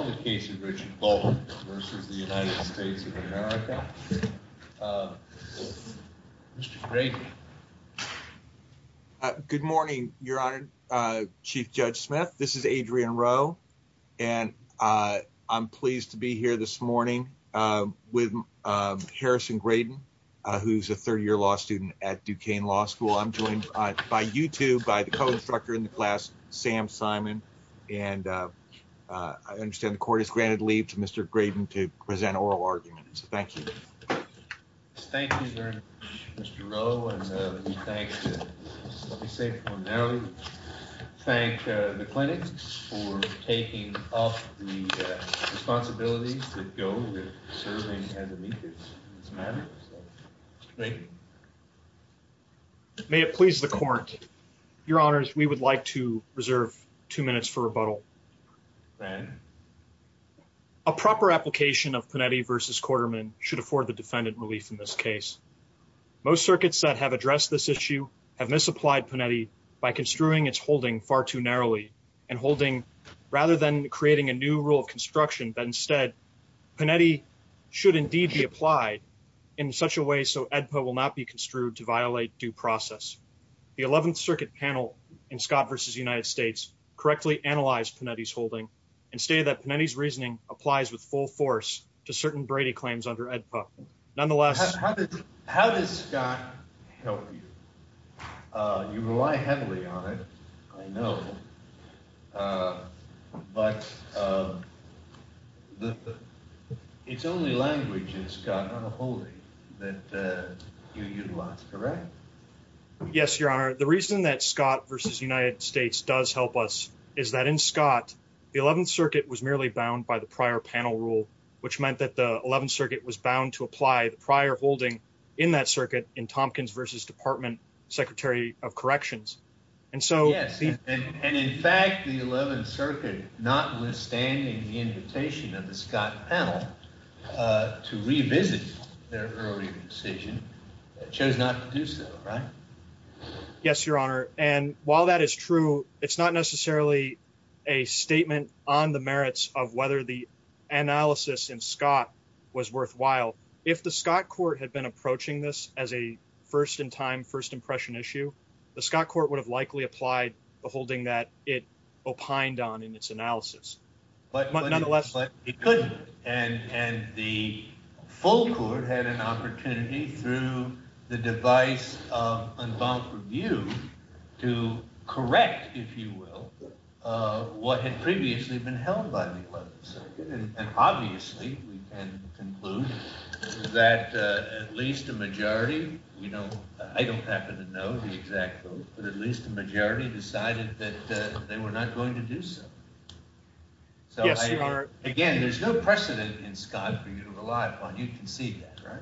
Good morning, your honor, Chief Judge Smith. This is Adrian Rowe and I'm pleased to be here this morning with Harrison Graydon, who's a third-year law student at Duquesne Law School. I'm joined by you two, by the co-instructor in the class, Sam Simon, and I understand the court has granted leave to Mr. Graydon to present oral arguments. Thank you. Thank you very much, Mr. Rowe. Thank the clinics for taking off the responsibilities that go with serving as amicus. May it please the court, your honors, we would like to reserve two minutes for rebuttal. A proper application of Panetti v. Quarterman should afford the defendant relief in this case. Most circuits that have addressed this issue have misapplied Panetti by construing its holding far too narrowly and holding rather than creating a new rule of construction that instead Panetti should indeed be applied in such a way so ADPA will not be construed to violate due process. The 11th circuit panel in Scott v. United States correctly analyzed Panetti's holding and stated that Panetti's reasoning applies with full force to certain Brady claims under ADPA. Nonetheless, how does Scott help you? You rely heavily on it, I know, but it's only language in Scott on a holding that you utilize, correct? Yes, your honor. The reason that Scott v. United States does help us is that in Scott, the 11th circuit was merely bound by prior panel rule, which meant that the 11th circuit was bound to apply the prior holding in that circuit in Tompkins v. Department Secretary of Corrections. Yes, and in fact, the 11th circuit, notwithstanding the invitation of the Scott panel to revisit their early decision, chose not to do so, right? Yes, your honor, and while that is true, it's not necessarily a statement on the merits of whether the analysis in Scott was worthwhile. If the Scott court had been approaching this as a first-in-time, first-impression issue, the Scott court would have likely applied the holding that it opined on in its analysis, but nonetheless, it couldn't, and the full court had an opportunity through the device of unbound review to correct, if you will, what had previously been held by the 11th circuit, and obviously, we can conclude that at least a majority, we don't, I don't happen to know the exact vote, but at least the majority decided that they were not going to do so. Yes, your honor. Again, there's no precedent in Scott for you to rely upon. You can see that, right?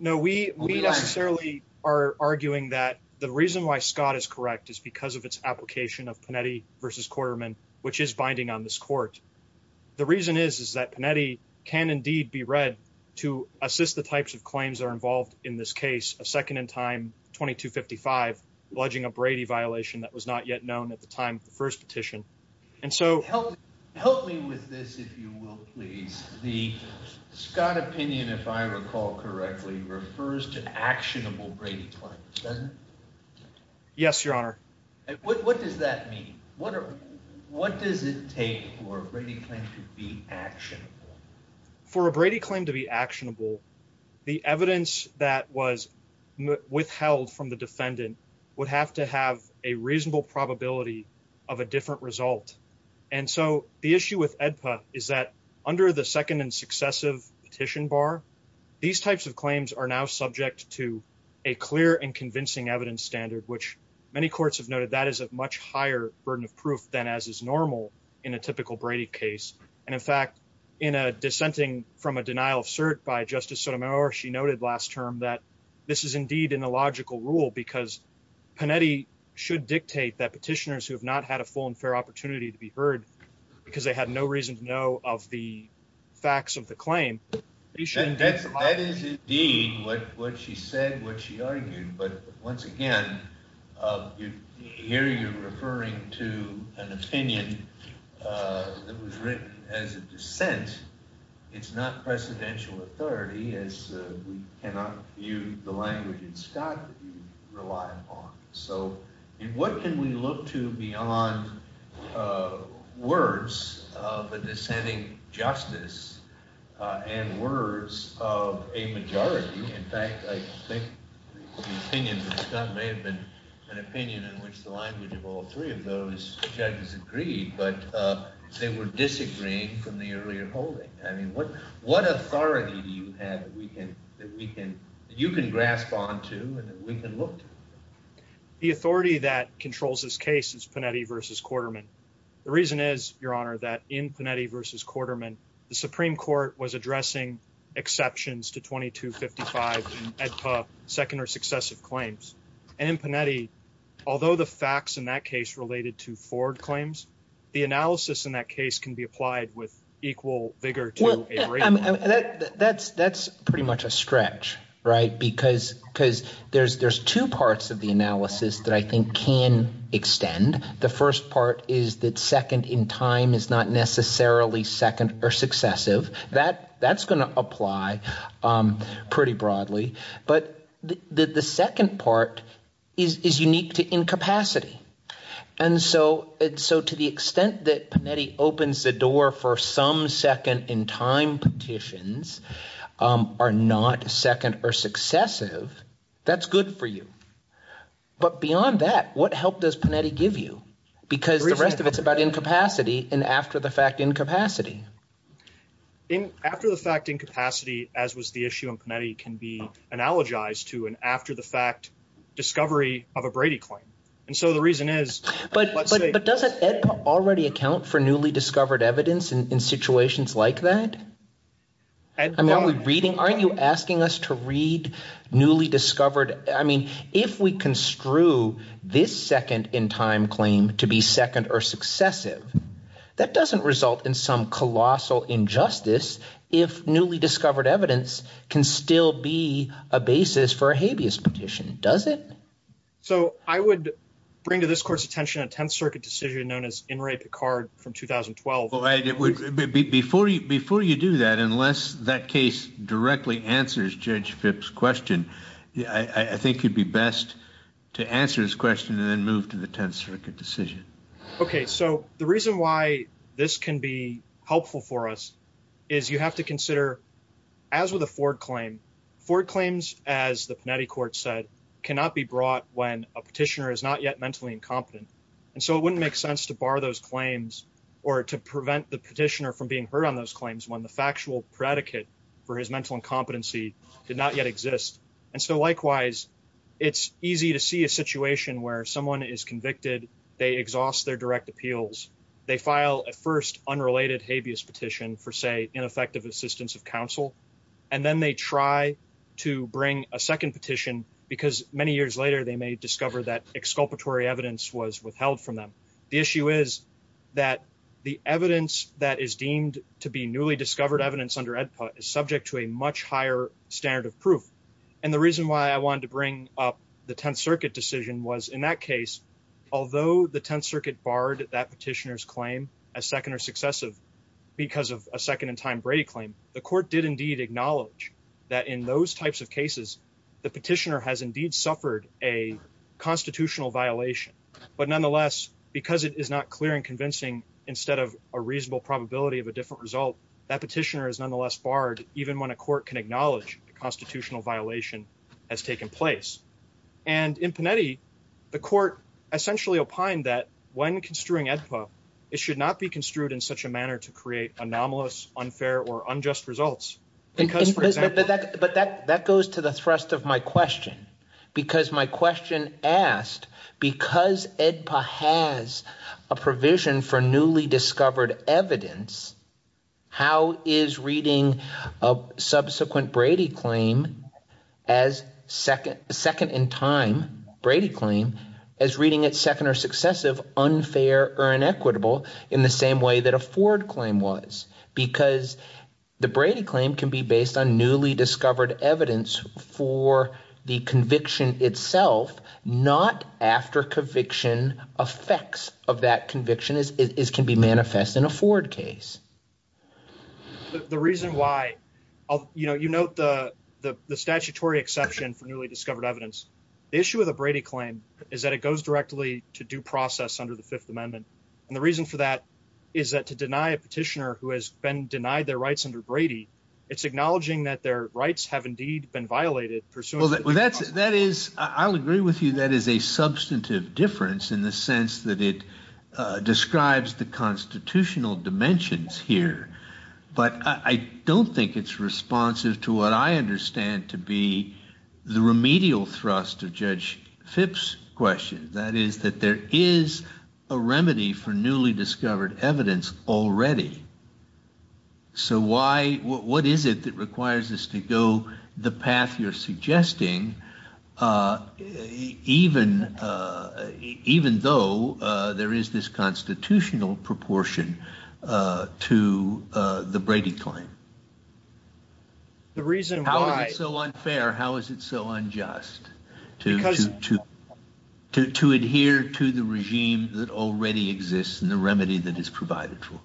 No, we necessarily are arguing that the reason why Pinedi versus Quarterman, which is binding on this court, the reason is, is that Pinedi can indeed be read to assist the types of claims that are involved in this case, a second-in-time 2255, alleging a Brady violation that was not yet known at the time of the first petition, and so... Help me with this, if you will, please. The Scott opinion, if I recall correctly, refers to actionable What does it take for a Brady claim to be actionable? For a Brady claim to be actionable, the evidence that was withheld from the defendant would have to have a reasonable probability of a different result, and so the issue with AEDPA is that under the second and successive petition bar, these types of claims are now subject to a clear and convincing evidence standard, which many courts have noted that is a much higher burden of proof than as is normal in a typical Brady case, and in fact, in a dissenting from a denial of cert by Justice Sotomayor, she noted last term that this is indeed an illogical rule because Pinedi should dictate that petitioners who have not had a full and fair opportunity to be heard because they had no reason to know of the facts of the claim... That is indeed what she said, what she argued, but once again, here you're referring to an opinion that was written as a dissent. It's not precedential authority as we cannot view the language in Scott that you rely upon, so what can we look to beyond words of a dissenting justice and words of a majority? In fact, I think the opinion that may have been an opinion in which the language of all three of those judges agreed, but they were disagreeing from the earlier holding. I mean, what authority do you have that you can grasp onto and that we can look to? The authority that controls this case is Pinedi v. Quarterman. The reason is, Your Honor, that in Pinedi v. Quarterman, the Supreme Court was addressing exceptions to 2255 second or successive claims, and in Pinedi, although the facts in that case related to forward claims, the analysis in that case can be applied with equal vigor to a rate. That's pretty much a stretch, right? Because there's two parts of the analysis that I think can extend. The first part is that second in time is not necessarily second or successive. That's going to apply pretty broadly, but the second part is unique to incapacity. To the extent that Pinedi opens the door for some second in time petitions are not second or successive, that's good for you, but beyond that, what help does Pinedi give you? Because the rest of it's about incapacity and after-the-fact incapacity. After-the-fact incapacity, as was the issue in Pinedi, can be analogized to an after-the-fact discovery of a Brady claim, and so the reason is... But doesn't AEDPA already account for newly discovered evidence in situations like that? Aren't you asking us to read newly discovered... I mean, if we construe this second in time claim to be second or successive, that doesn't result in some colossal injustice if newly discovered evidence can still be a basis for a habeas petition, does it? So I would bring to this court's attention a Tenth Circuit decision known as In re Picard from 2012. Before you do that, unless that case directly answers Judge Phipps' question, I think it'd be best to answer his Okay, so the reason why this can be helpful for us is you have to consider, as with a Ford claim, Ford claims, as the Pinedi court said, cannot be brought when a petitioner is not yet mentally incompetent, and so it wouldn't make sense to bar those claims or to prevent the petitioner from being heard on those claims when the factual predicate for his mental incompetency did not exist. And so likewise, it's easy to see a situation where someone is convicted, they exhaust their direct appeals, they file a first unrelated habeas petition for, say, ineffective assistance of counsel, and then they try to bring a second petition because many years later they may discover that exculpatory evidence was withheld from them. The issue is that the evidence that is deemed to be newly discovered evidence under AEDPA is subject to a much higher standard of proof. And the reason why I wanted to bring up the Tenth Circuit decision was, in that case, although the Tenth Circuit barred that petitioner's claim as second or successive because of a second-in-time Brady claim, the court did indeed acknowledge that in those types of cases the petitioner has indeed suffered a constitutional violation. But nonetheless, because it is not clear and convincing, instead of a reasonable probability of a different result, that petitioner is nonetheless barred even when a court can acknowledge a constitutional violation has taken place. And in Panetti, the court essentially opined that when construing AEDPA, it should not be construed in such a manner to create anomalous, unfair, or unjust results. But that goes to the thrust of my question. Because my question asked, because AEDPA has a provision for newly discovered evidence, how is reading a subsequent Brady claim as second-in-time Brady claim as reading it second or successive unfair or inequitable in the same way that a Ford claim was? Because the Brady claim can be based on newly discovered evidence for the conviction itself, not after conviction effects of that conviction as can be manifest in a Ford case. The reason why, you know, you note the statutory exception for newly discovered evidence. The issue with a Brady claim is that it goes directly to due process under the Fifth Amendment. And the reason for that is that to deny a petitioner who has been denied their rights have indeed been violated pursuant to the Constitution. Well, that is, I'll agree with you, that is a substantive difference in the sense that it describes the constitutional dimensions here. But I don't think it's responsive to what I understand to be the remedial thrust of Judge Phipps' question. That is that there is a remedy for newly discovered evidence already. So why, what is it that requires us to go the path you're suggesting, even though there is this constitutional proportion to the Brady claim? How is it so unfair? How is it so unjust to adhere to the regime that already exists and the remedy that is provided for?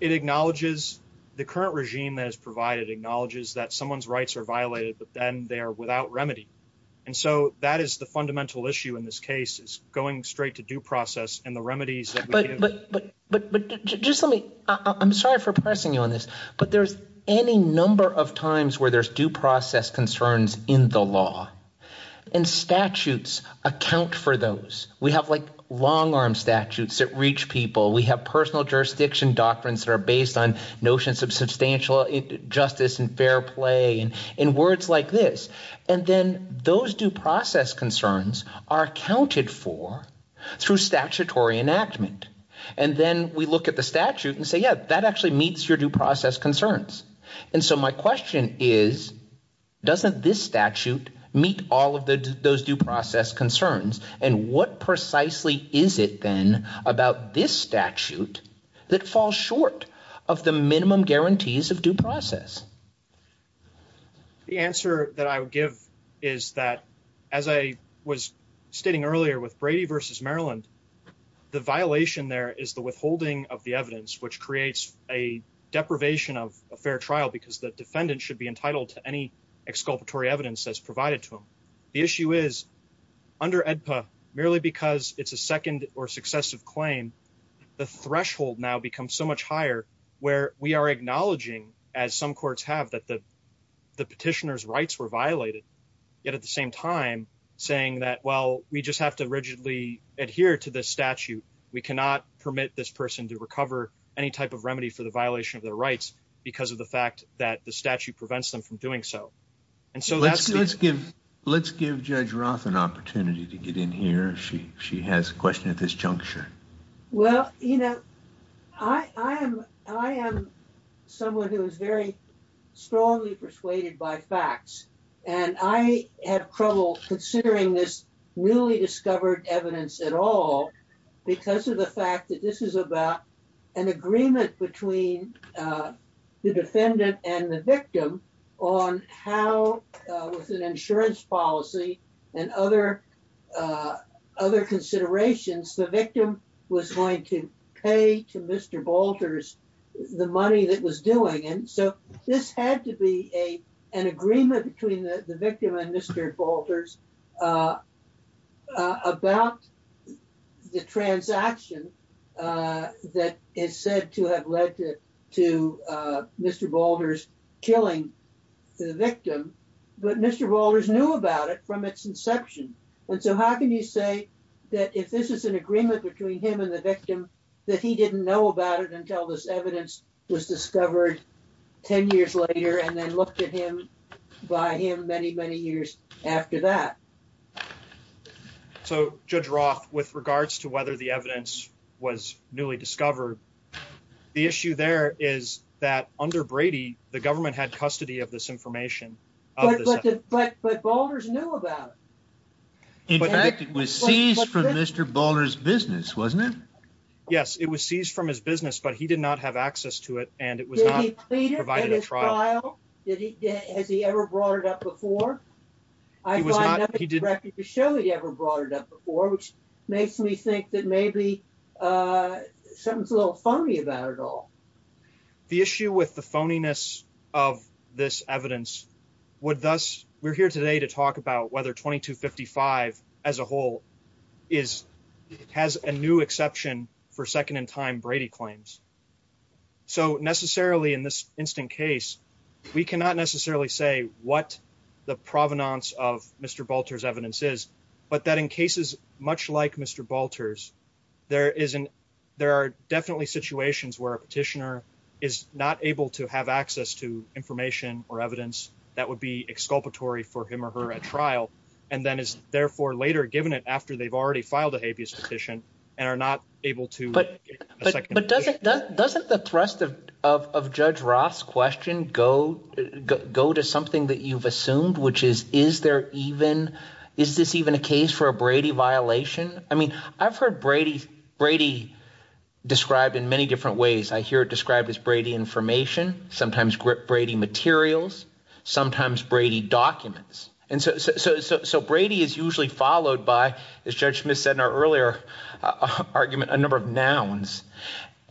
It acknowledges the current regime that is provided, acknowledges that someone's rights are violated, but then they are without remedy. And so that is the fundamental issue in this case is going straight to due process and the remedies. But just let me, I'm going to say this. There's any number of times where there's due process concerns in the law and statutes account for those. We have like long arm statutes that reach people. We have personal jurisdiction doctrines that are based on notions of substantial justice and fair play and words like this. And then those due process concerns are accounted for through statutory enactment. And then we look at the statute and say, yeah, that actually meets your due process concerns. And so my question is, doesn't this statute meet all of those due process concerns? And what precisely is it then about this statute that falls short of the minimum guarantees of due process? The answer that I would give is that as I was stating earlier with Brady versus Maryland, the violation there is the withholding of the evidence, which creates a deprivation of a fair trial because the defendant should be entitled to any exculpatory evidence that's provided to him. The issue is under EDPA, merely because it's a second or successive claim, the threshold now becomes so much higher where we are acknowledging as some courts have that the petitioner's rights were violated, yet at the same time saying that, well, we just have to rigidly adhere to this statute. We cannot permit this person to recover any type of remedy for the violation of their rights because of the fact that the statute prevents them from doing so. And so let's give Judge Roth an opportunity to get in here. She has a question at this juncture. Well, you know, I am someone who is very strongly persuaded by facts, and I have trouble considering this newly discovered evidence at all because of the fact that this is about an agreement between the defendant and the victim on how with an insurance policy and other considerations, the victim was going to pay to Mr. Boulders the money that was doing. And so this had to be an agreement between the victim and Mr. Boulders about the transaction that is said to have led to Mr. Boulders killing the victim. But Mr. Boulders knew about it from its inception. And so how can you say that if this is an agreement between him and the victim, that he didn't know about it until this evidence was discovered 10 years later and then looked at him by him many, many years after that? So Judge Roth, with regards to whether the evidence was newly discovered, the issue there is that under Brady, the government had custody of this information. But Boulders knew about it. In fact, it was seized from Mr. Boulders' business, wasn't it? Yes, it was seized from his business, but he did not have access to it, and it was not provided a trial. Has he ever brought it up before? I find nothing to show he ever brought it up before, which makes me think that maybe something's a little phony about it all. The issue with the phoniness of this evidence would thus, we're here today to talk about whether 2255 as a whole has a new exception for second-in-time Brady claims. So necessarily in this instant case, we cannot necessarily say what the provenance of Mr. Boulders' evidence is, but that in cases much like Mr. Boulders, there are definitely situations where a petitioner is not able to have access to information or evidence that would be exculpatory for him or her at trial, and then is therefore later given it after they've already filed a habeas petition and are not able to get a second opinion. But doesn't the thrust of Judge Roth's question go to something that you've assumed, which is, is this even a case for a Brady violation? I mean, I've heard Brady described in many different ways. I hear it described as Brady information, sometimes Brady materials, sometimes Brady documents. And so Brady is usually followed by, as Judge Smith said in our earlier argument, a number of nouns.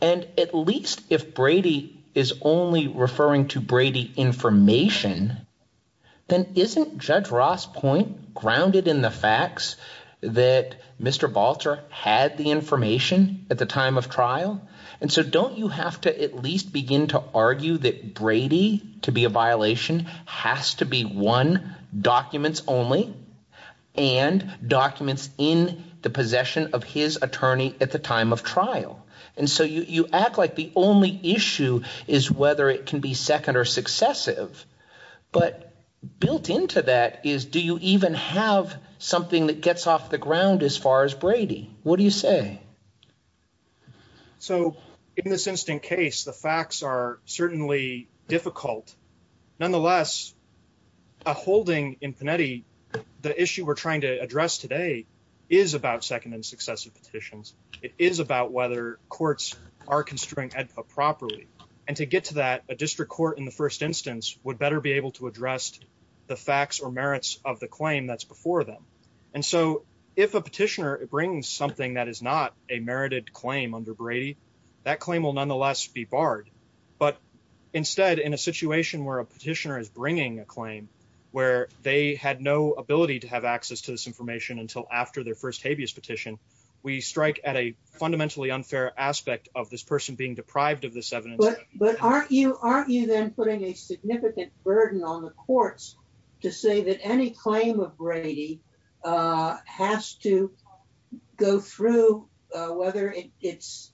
And at least if Brady is only referring to Brady information, then isn't Judge Roth's point grounded in the facts that Mr. Balter had the information at the time of trial? And so don't you have to at least begin to argue that Brady, to be a violation, has to be one, documents only, and documents in the possession of his attorney at the time of trial. And so you act like the only issue is whether it can be second or successive. But built into that is, do you even have something that gets off the ground as far as Brady? What do you say? So in this instant case, the facts are certainly difficult. Nonetheless, a holding in Panetti, the issue we're trying to address today is about second and successive petitions. It is about whether courts are construing properly. And to get to that, a district court in the first instance would better be able to address the facts or merits of the claim that's before them. And so if a petitioner brings something that is not a merited claim under Brady, that claim will nonetheless be barred. But instead, in a situation where a petitioner is bringing a claim, where they had no ability to have access to this information until after their first habeas petition, we strike at a fundamentally unfair aspect of this person being deprived of this evidence. But aren't you then putting a significant burden on the courts to say that any claim of Brady has to go through whether it's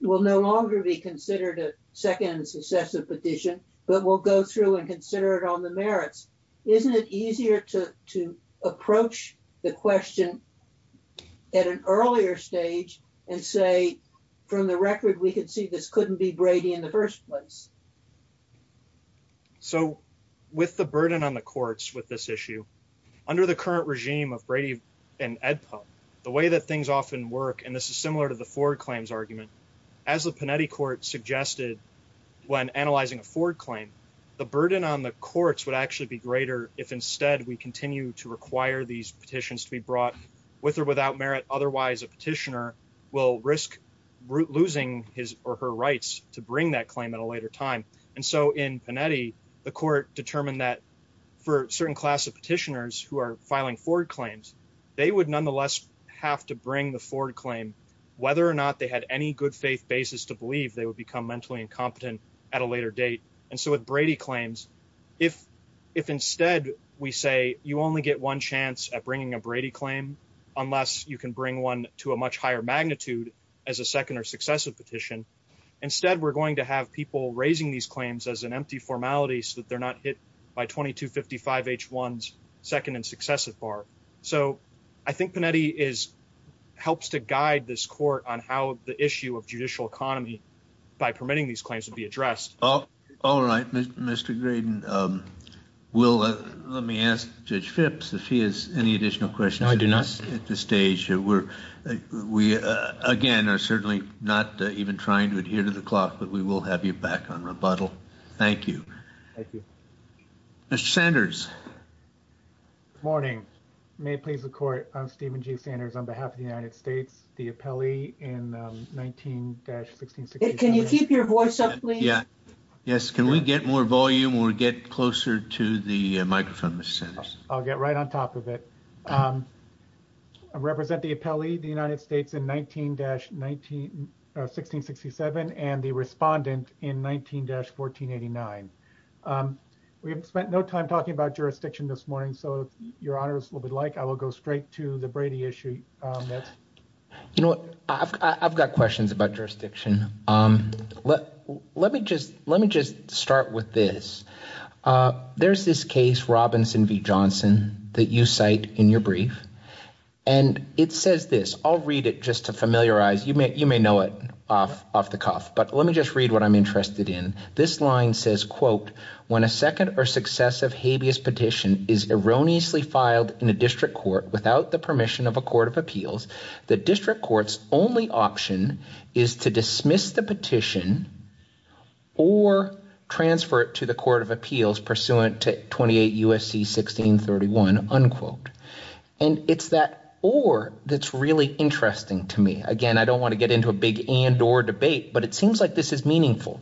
will no longer be considered a second and successive petition, but will go through and consider it on the merits? Isn't it easier to approach the question at an earlier stage and say, from the record, we could see this couldn't be Brady in the first place? So with the burden on the courts with this issue, under the current regime of Brady and Edpub, the way that things often work, and this is similar to the Ford claims argument, as the Panetti court suggested when analyzing a Ford claim, the burden on the courts would actually be greater if instead we continue to require these petitions to be brought with or without merit. Otherwise, a petitioner will risk losing his or her rights to bring that claim at a later time. And so in Panetti, the court determined that for certain class of petitioners who are filing Ford claims, they would nonetheless have to bring the Ford claim, whether or not they had any good faith basis to believe they would become mentally incompetent at a later date. And so with Brady claims, if instead we say you only get one chance at bringing a Brady claim, unless you can bring one to a much higher magnitude as a second or successive petition, instead we're going to have people raising these claims as an empty formality so that they're not hit by 2255H1's second and successive bar. So I think Panetti helps to guide this court on how the issue of judicial economy by permitting these claims to be addressed. All right, Mr. Graydon. Let me ask Judge Phipps if he has any additional questions. No, I do not. At this stage, we again are certainly not even trying to adhere to the clock, but we will have you back on rebuttal. Thank you. Thank you. Mr. Sanders. Good morning. May it please the court, I'm Stephen G. Sanders on behalf of the United States, the appellee in 19-1667. Can you keep your voice up, please? Yeah. Yes. Can we get more volume or get closer to the microphone, Mr. Sanders? I'll get right on top of it. I represent the appellee, the United States in 19-1667 and the respondent in 19-1489. We've spent no time talking about jurisdiction this morning, so if your honors would like, I will go straight to the Brady issue. You know what? I've got questions about jurisdiction. Let me just start with this. There's this case, Robinson v. Johnson, that you cite in your brief and it says this. I'll read it just to familiarize. You may know it off the cuff, but let me just read what I'm interested in. This line says, quote, when a second or successive habeas petition is erroneously filed in a district court without the permission of a court of appeals, the district court's only option is to dismiss the petition or transfer it to the court of appeals pursuant to 28 U.S.C. 1631, unquote. It's that or that's really interesting to me. Again, I don't want to get into a big and or debate, but it seems like this is meaningful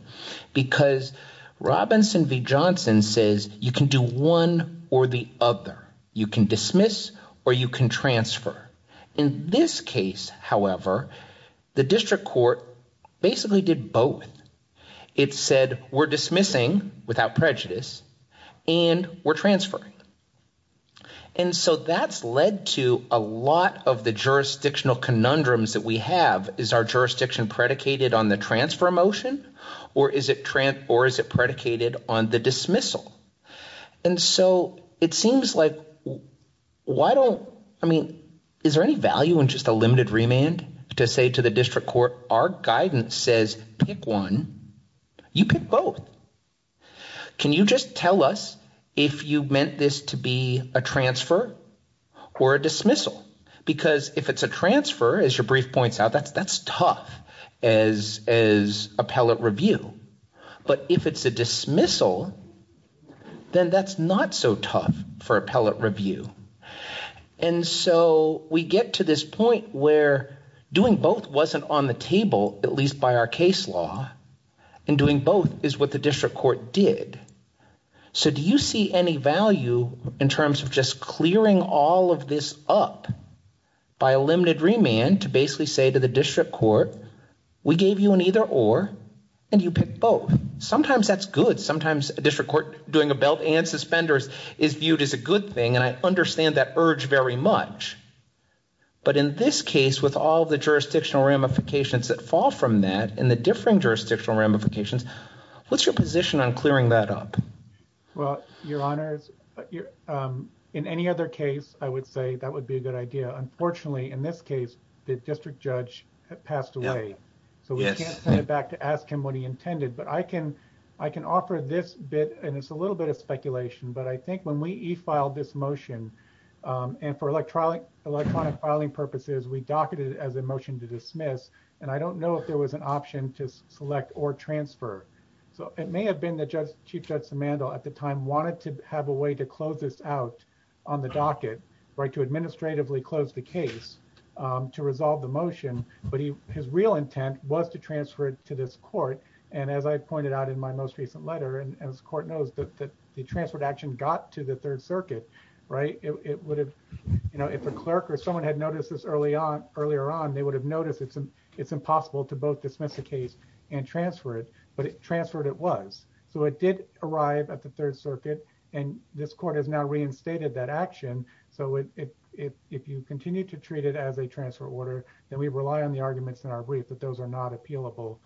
because Robinson v. Johnson says you can do one or the other. You can dismiss or you can transfer. In this case, however, the district court basically did both. It said we're dismissing without prejudice and we're transferring. And so that's led to a lot of the jurisdictional conundrums that we have. Is our jurisdiction predicated on the transfer motion or is it predicated on the dismissal? And so it seems like why don't I mean, is there any value in just a limited remand to say to the district court, our guidance says pick one, you pick both. Can you just tell us if you meant this to be a transfer or a dismissal? Because if it's a transfer, as your brief points out, that's that's tough as as appellate review. But if it's a dismissal, then that's not so tough for appellate review. And so we get to this point where doing both wasn't on the table, at least by our case law, and doing both is what the district court did. So do you see any value in terms of just clearing all of this up by a limited remand to basically say to the district court, we gave you an either or and you pick both. Sometimes that's good. Sometimes a district court doing a belt and suspenders is viewed as a good thing. And I understand that urge very much. But in this case, with all the jurisdictional ramifications that fall from that and the differing jurisdictional ramifications, what's your position on clearing that up? Well, your honors, in any other case, I would say that would be a good idea. Unfortunately, in this case, the district judge passed away. So we can't send it back to ask him what he intended. But I can I can offer this bit and it's a little bit of speculation. But I think when we filed this motion and for electronic electronic filing purposes, we docketed as a motion to dismiss. And I don't know if there was an option to select or transfer. So it may have been the judge, Chief Judge Samando at the time wanted to have a way to close this out on the docket, to administratively close the case, to resolve the motion. But his real intent was to transfer it to this court. And as I pointed out in my most recent letter, and as the court knows that the transferred action got to the Third Circuit, right, it would have if a clerk or someone had noticed this early on earlier on, they would have noticed it's it's impossible to both dismiss the case and transfer it. But it transferred it was. So it did arrive at the Third Circuit. And this if you continue to treat it as a transfer order, then we rely on the arguments in our brief that those are not appealable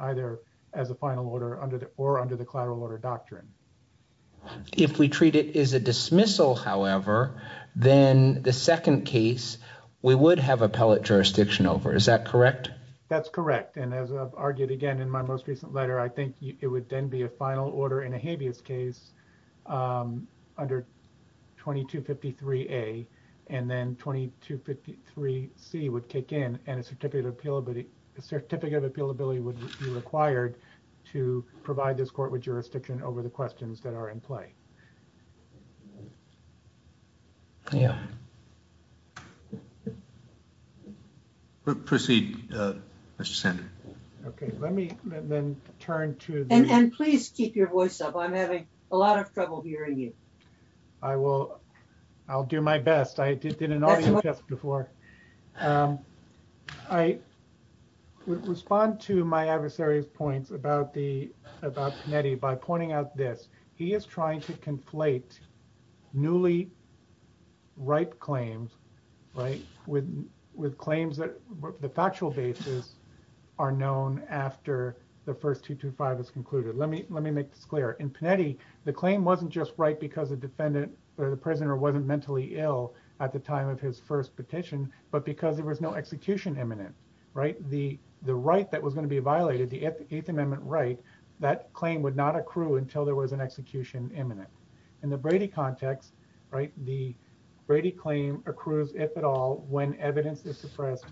either as a final order or under the collateral order doctrine. If we treat it as a dismissal, however, then the second case we would have appellate jurisdiction over. Is that correct? That's correct. And as I've argued again in my most recent letter, I think it would then be a final order in a habeas case under 2253A and then 2253C would kick in and a certificate of appealability would be required to provide this court with jurisdiction over the questions that are in play. Yeah. Proceed, Mr. Sander. Okay, let me then turn to... And please keep your voice up. I'm having a lot of trouble hearing you. I will. I'll do my best. I did an audio test before. I would respond to my adversary's points about the about Kennedy by pointing out this. He is trying to conflate newly ripe claims, right? With claims that the factual basis are known after the first 225 is concluded. Let me make this clear. In Panetti, the claim wasn't just right because the defendant or the prisoner wasn't mentally ill at the time of his first petition, but because there was no execution imminent, right? The right that was going to be violated, the eighth amendment right, that claim would not accrue until there was an execution imminent. In the Brady context, right? The Brady claim accrues, if at all, when evidence is suppressed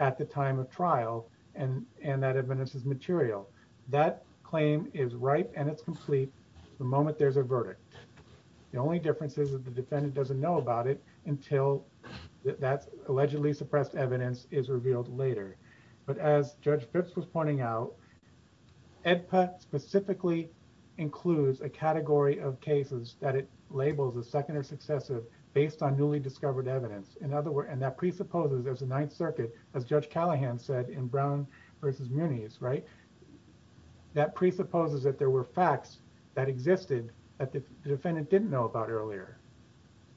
at the time of trial and that evidence is material. That claim is ripe and it's complete the moment there's a verdict. The only difference is that the defendant doesn't know about it until that allegedly suppressed evidence is revealed later. But as Judge Phipps was pointing out, EDPA specifically includes a category of cases that it labels a second or successive based on newly discovered evidence. In other words, and that presupposes there's a ninth circuit, as Judge Callahan said in Brown versus Muniz, right? That presupposes that there were facts that existed that the defendant didn't know about earlier,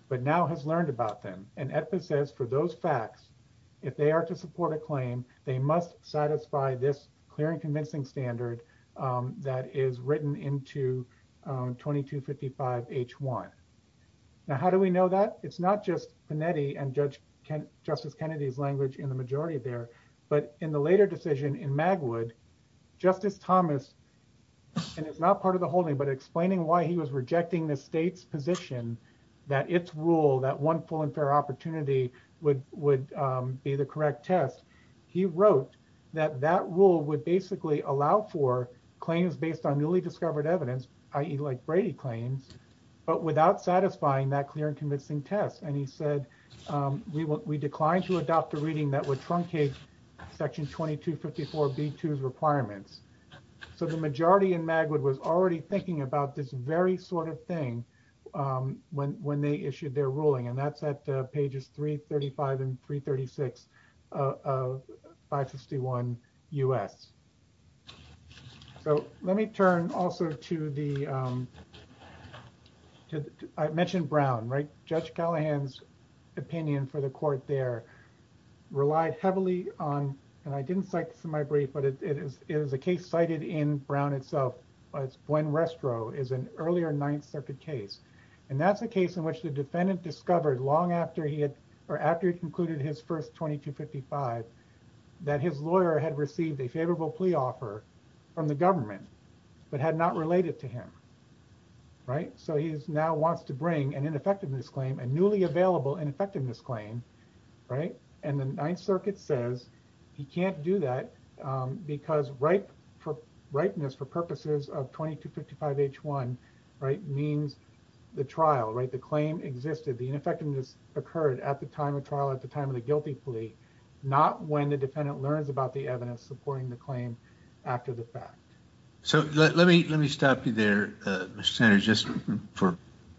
but now has learned about them. And EDPA says for those facts, if they are to support a claim, they must satisfy this clear and convincing standard that is written into 2255 H1. Now, how do we know that? It's not just Panetti and Justice Kennedy's language in the majority there, but in the later decision in Magwood, Justice Thomas, and it's not part of the holding, but explaining why he was rejecting the state's position that its rule, that one full and fair opportunity would be the correct test. He wrote that that rule would basically allow for claims based on newly discovered evidence, i.e. like Brady claims, but without satisfying that clear and convincing test. And he said, we declined to adopt a reading that would truncate section 2254 B2's requirements. So the majority in Magwood was already thinking about this very sort of thing when they issued their ruling. And that's at pages 335 and 336 of 561 U.S. So let me turn also to the, I mentioned Brown, right? Judge Callahan's opinion for the court there relied heavily on, and I didn't cite this in my brief, but it is a case cited in Brown itself, when Restro is an earlier Ninth Circuit case. And that's a case in which the defendant discovered long after he had, or after he concluded his first 2255, that his lawyer had received a favorable plea offer from the government, but had not related to him, right? So he now wants to bring an ineffectiveness claim, a newly available ineffectiveness claim, right? And the Ninth Circuit case, which is a case in which the defendant learns about the evidence supporting the claim after the fact. And the fact is that 2255 H1, right, means the trial, right? The claim existed. The ineffectiveness occurred at the time of trial, at the time of the guilty plea, not when the defendant learns about the evidence supporting the claim after the fact. So let me stop you there, Mr. Sanders, just for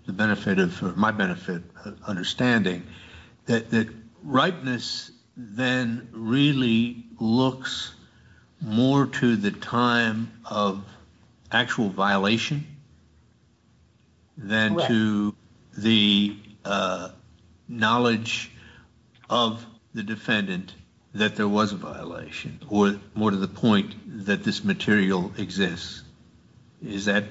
the benefit of, for my benefit, understanding that ripeness then really looks more to the time of actual violation than to the knowledge of the defendant that there was a violation, or more to the point that this material exists. Is that,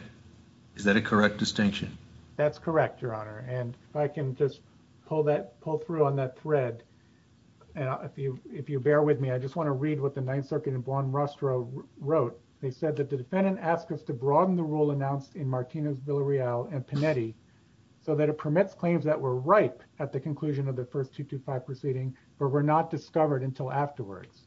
is that a correct distinction? That's correct, Your Honor. And if I can just pull that, pull through on that thread, and if you, if you bear with me, I just want to read what the Ninth Circuit and Bland-Rostro wrote. They said that the defendant asked us to broaden the rule announced in Martinez, Villarreal, and Panetti, so that it permits claims that were ripe at the conclusion of the first 2255 proceeding, but were not discovered until afterwards.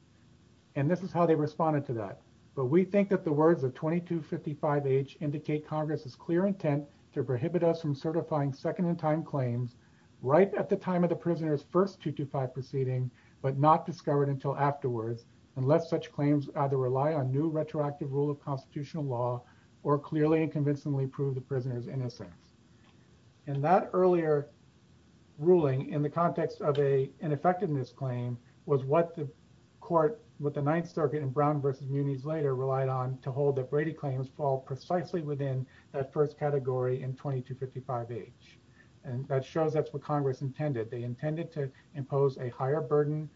And this is how they responded to that. But we think that the words of 2255H indicate Congress's clear intent to prohibit us from certifying second-in-time claims ripe at the time of the prisoner's first 225 proceeding, but not discovered until afterwards, unless such claims either rely on new retroactive rule of constitutional law or clearly and convincingly prove the prisoner's innocence. And that earlier ruling in the context of a ineffectiveness claim was what the court, what the Ninth Circuit and Brown v. Muniz later relied on to hold that Brady claims fall precisely within that first category in 2255H. And that shows that's what Congress intended. They intended to impose a higher burden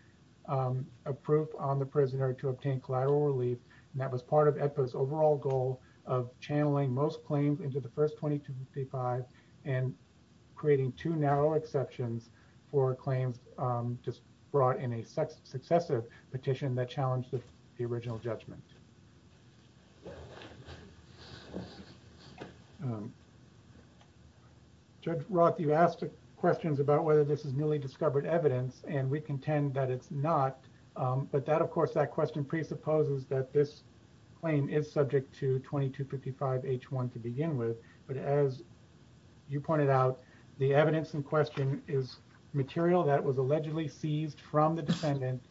of proof on the prisoner to obtain collateral relief, and that was part of AEDPA's overall goal of channeling most claims into the first 2255 and creating two narrow exceptions for claims just brought in a successive petition that challenged the original judgment. Judge Roth, you asked questions about whether this is newly discovered evidence, and we contend that it's not. But that, of course, that question presupposes that this claim is subject to 2255H1 to begin with. But as you pointed out, the evidence in question is material that was allegedly seized from the defendant.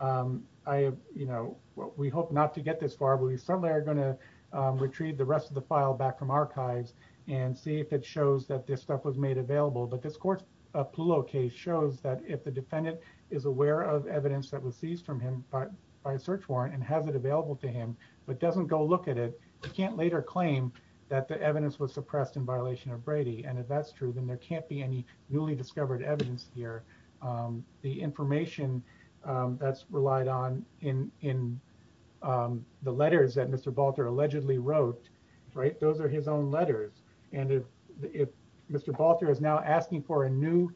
I, you know, we hope not to get this far, but we certainly are going to retrieve the rest of the file back from archives and see if it shows that this stuff was made available. But this court's Ploulot case shows that if the defendant is aware of evidence that was seized from him by a search warrant and has it available to him but doesn't go look at it, he can't later claim that the evidence was suppressed in violation of Brady. And if that's true, then there can't be any newly discovered evidence here. The information that's relied on in the letters that Mr. Balter allegedly wrote, right, those are his own letters. And if Mr. Balter is now asking for a new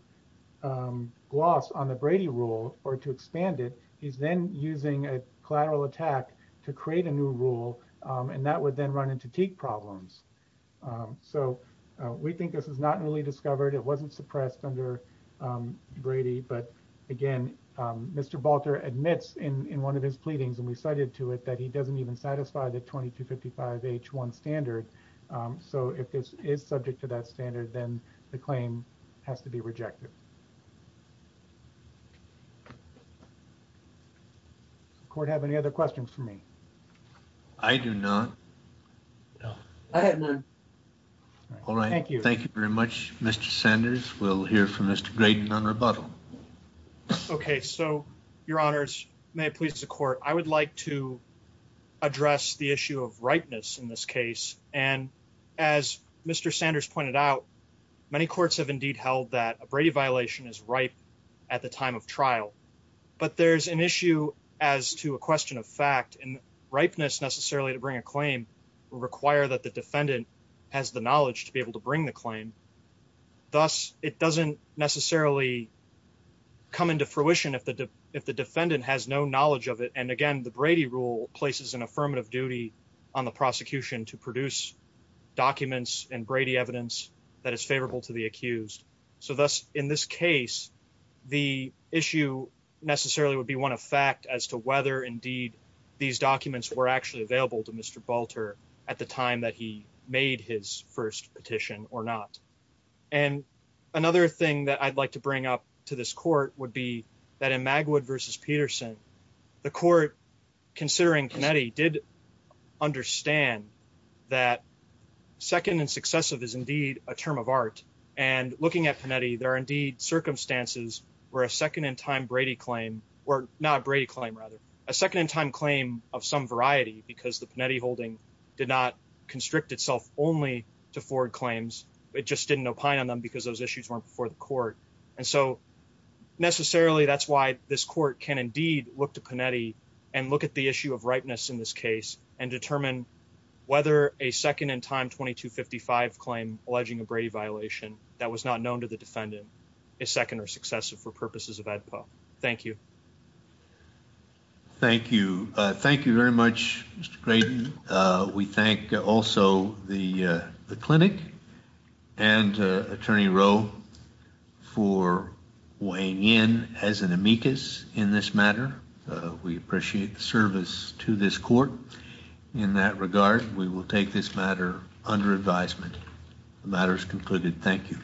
gloss on the Brady rule or to expand it, he's then using a collateral attack to create a new rule and that would then run into teak problems. So we think this is not newly discovered. It wasn't suppressed under Brady. But again, Mr. Balter admits in one of his pleadings, and we cited to it, that he doesn't even satisfy the 2255H1 standard. So if this is subject to that standard, then the claim has to be rejected. Does the court have any other questions for me? I do not. No. I have none. All right. Thank you. Thank you very much, Mr. Sanders. We'll hear from Mr. Graydon on rebuttal. Okay. So, your honors, may it please the court, I would like to address the issue of rightness in this case. And as Mr. Sanders pointed out, many courts have indeed held that a Brady violation is ripe at the time of trial. But there's an issue as to a question of fact, and ripeness necessarily to bring a claim will require that the defendant has the knowledge to be able to bring the claim. Thus, it doesn't necessarily come into fruition if the defendant has no knowledge of it. And again, the Brady rule places an affirmative duty on the prosecution to produce documents and Brady evidence that is favorable to the accused. So thus, in this case, the issue necessarily would be one of fact as to whether indeed these documents were actually available to Mr. Balter at the time that he made his first petition or not. And another thing that I'd like to bring up to this court would be that in Magwood v. Peterson, the court, considering Panetti, did understand that second and successive is indeed a term of art. And looking at Panetti, there are indeed circumstances where a second-in-time Brady claim, or not Brady claim, rather, a second-in-time claim of some variety because the Panetti holding did not constrict itself only to forward claims. It just didn't opine on them because those issues weren't before court. And so necessarily, that's why this court can indeed look to Panetti and look at the issue of ripeness in this case and determine whether a second-in-time 2255 claim alleging a Brady violation that was not known to the defendant is second or successive for purposes of AEDPA. Thank you. Thank you. Thank you very much, Mr. Graydon. We thank also the clinic and Attorney Rowe for weighing in as an amicus in this matter. We appreciate the service to this court. In that regard, we will take this matter under advisement. The matter is concluded. Thank you.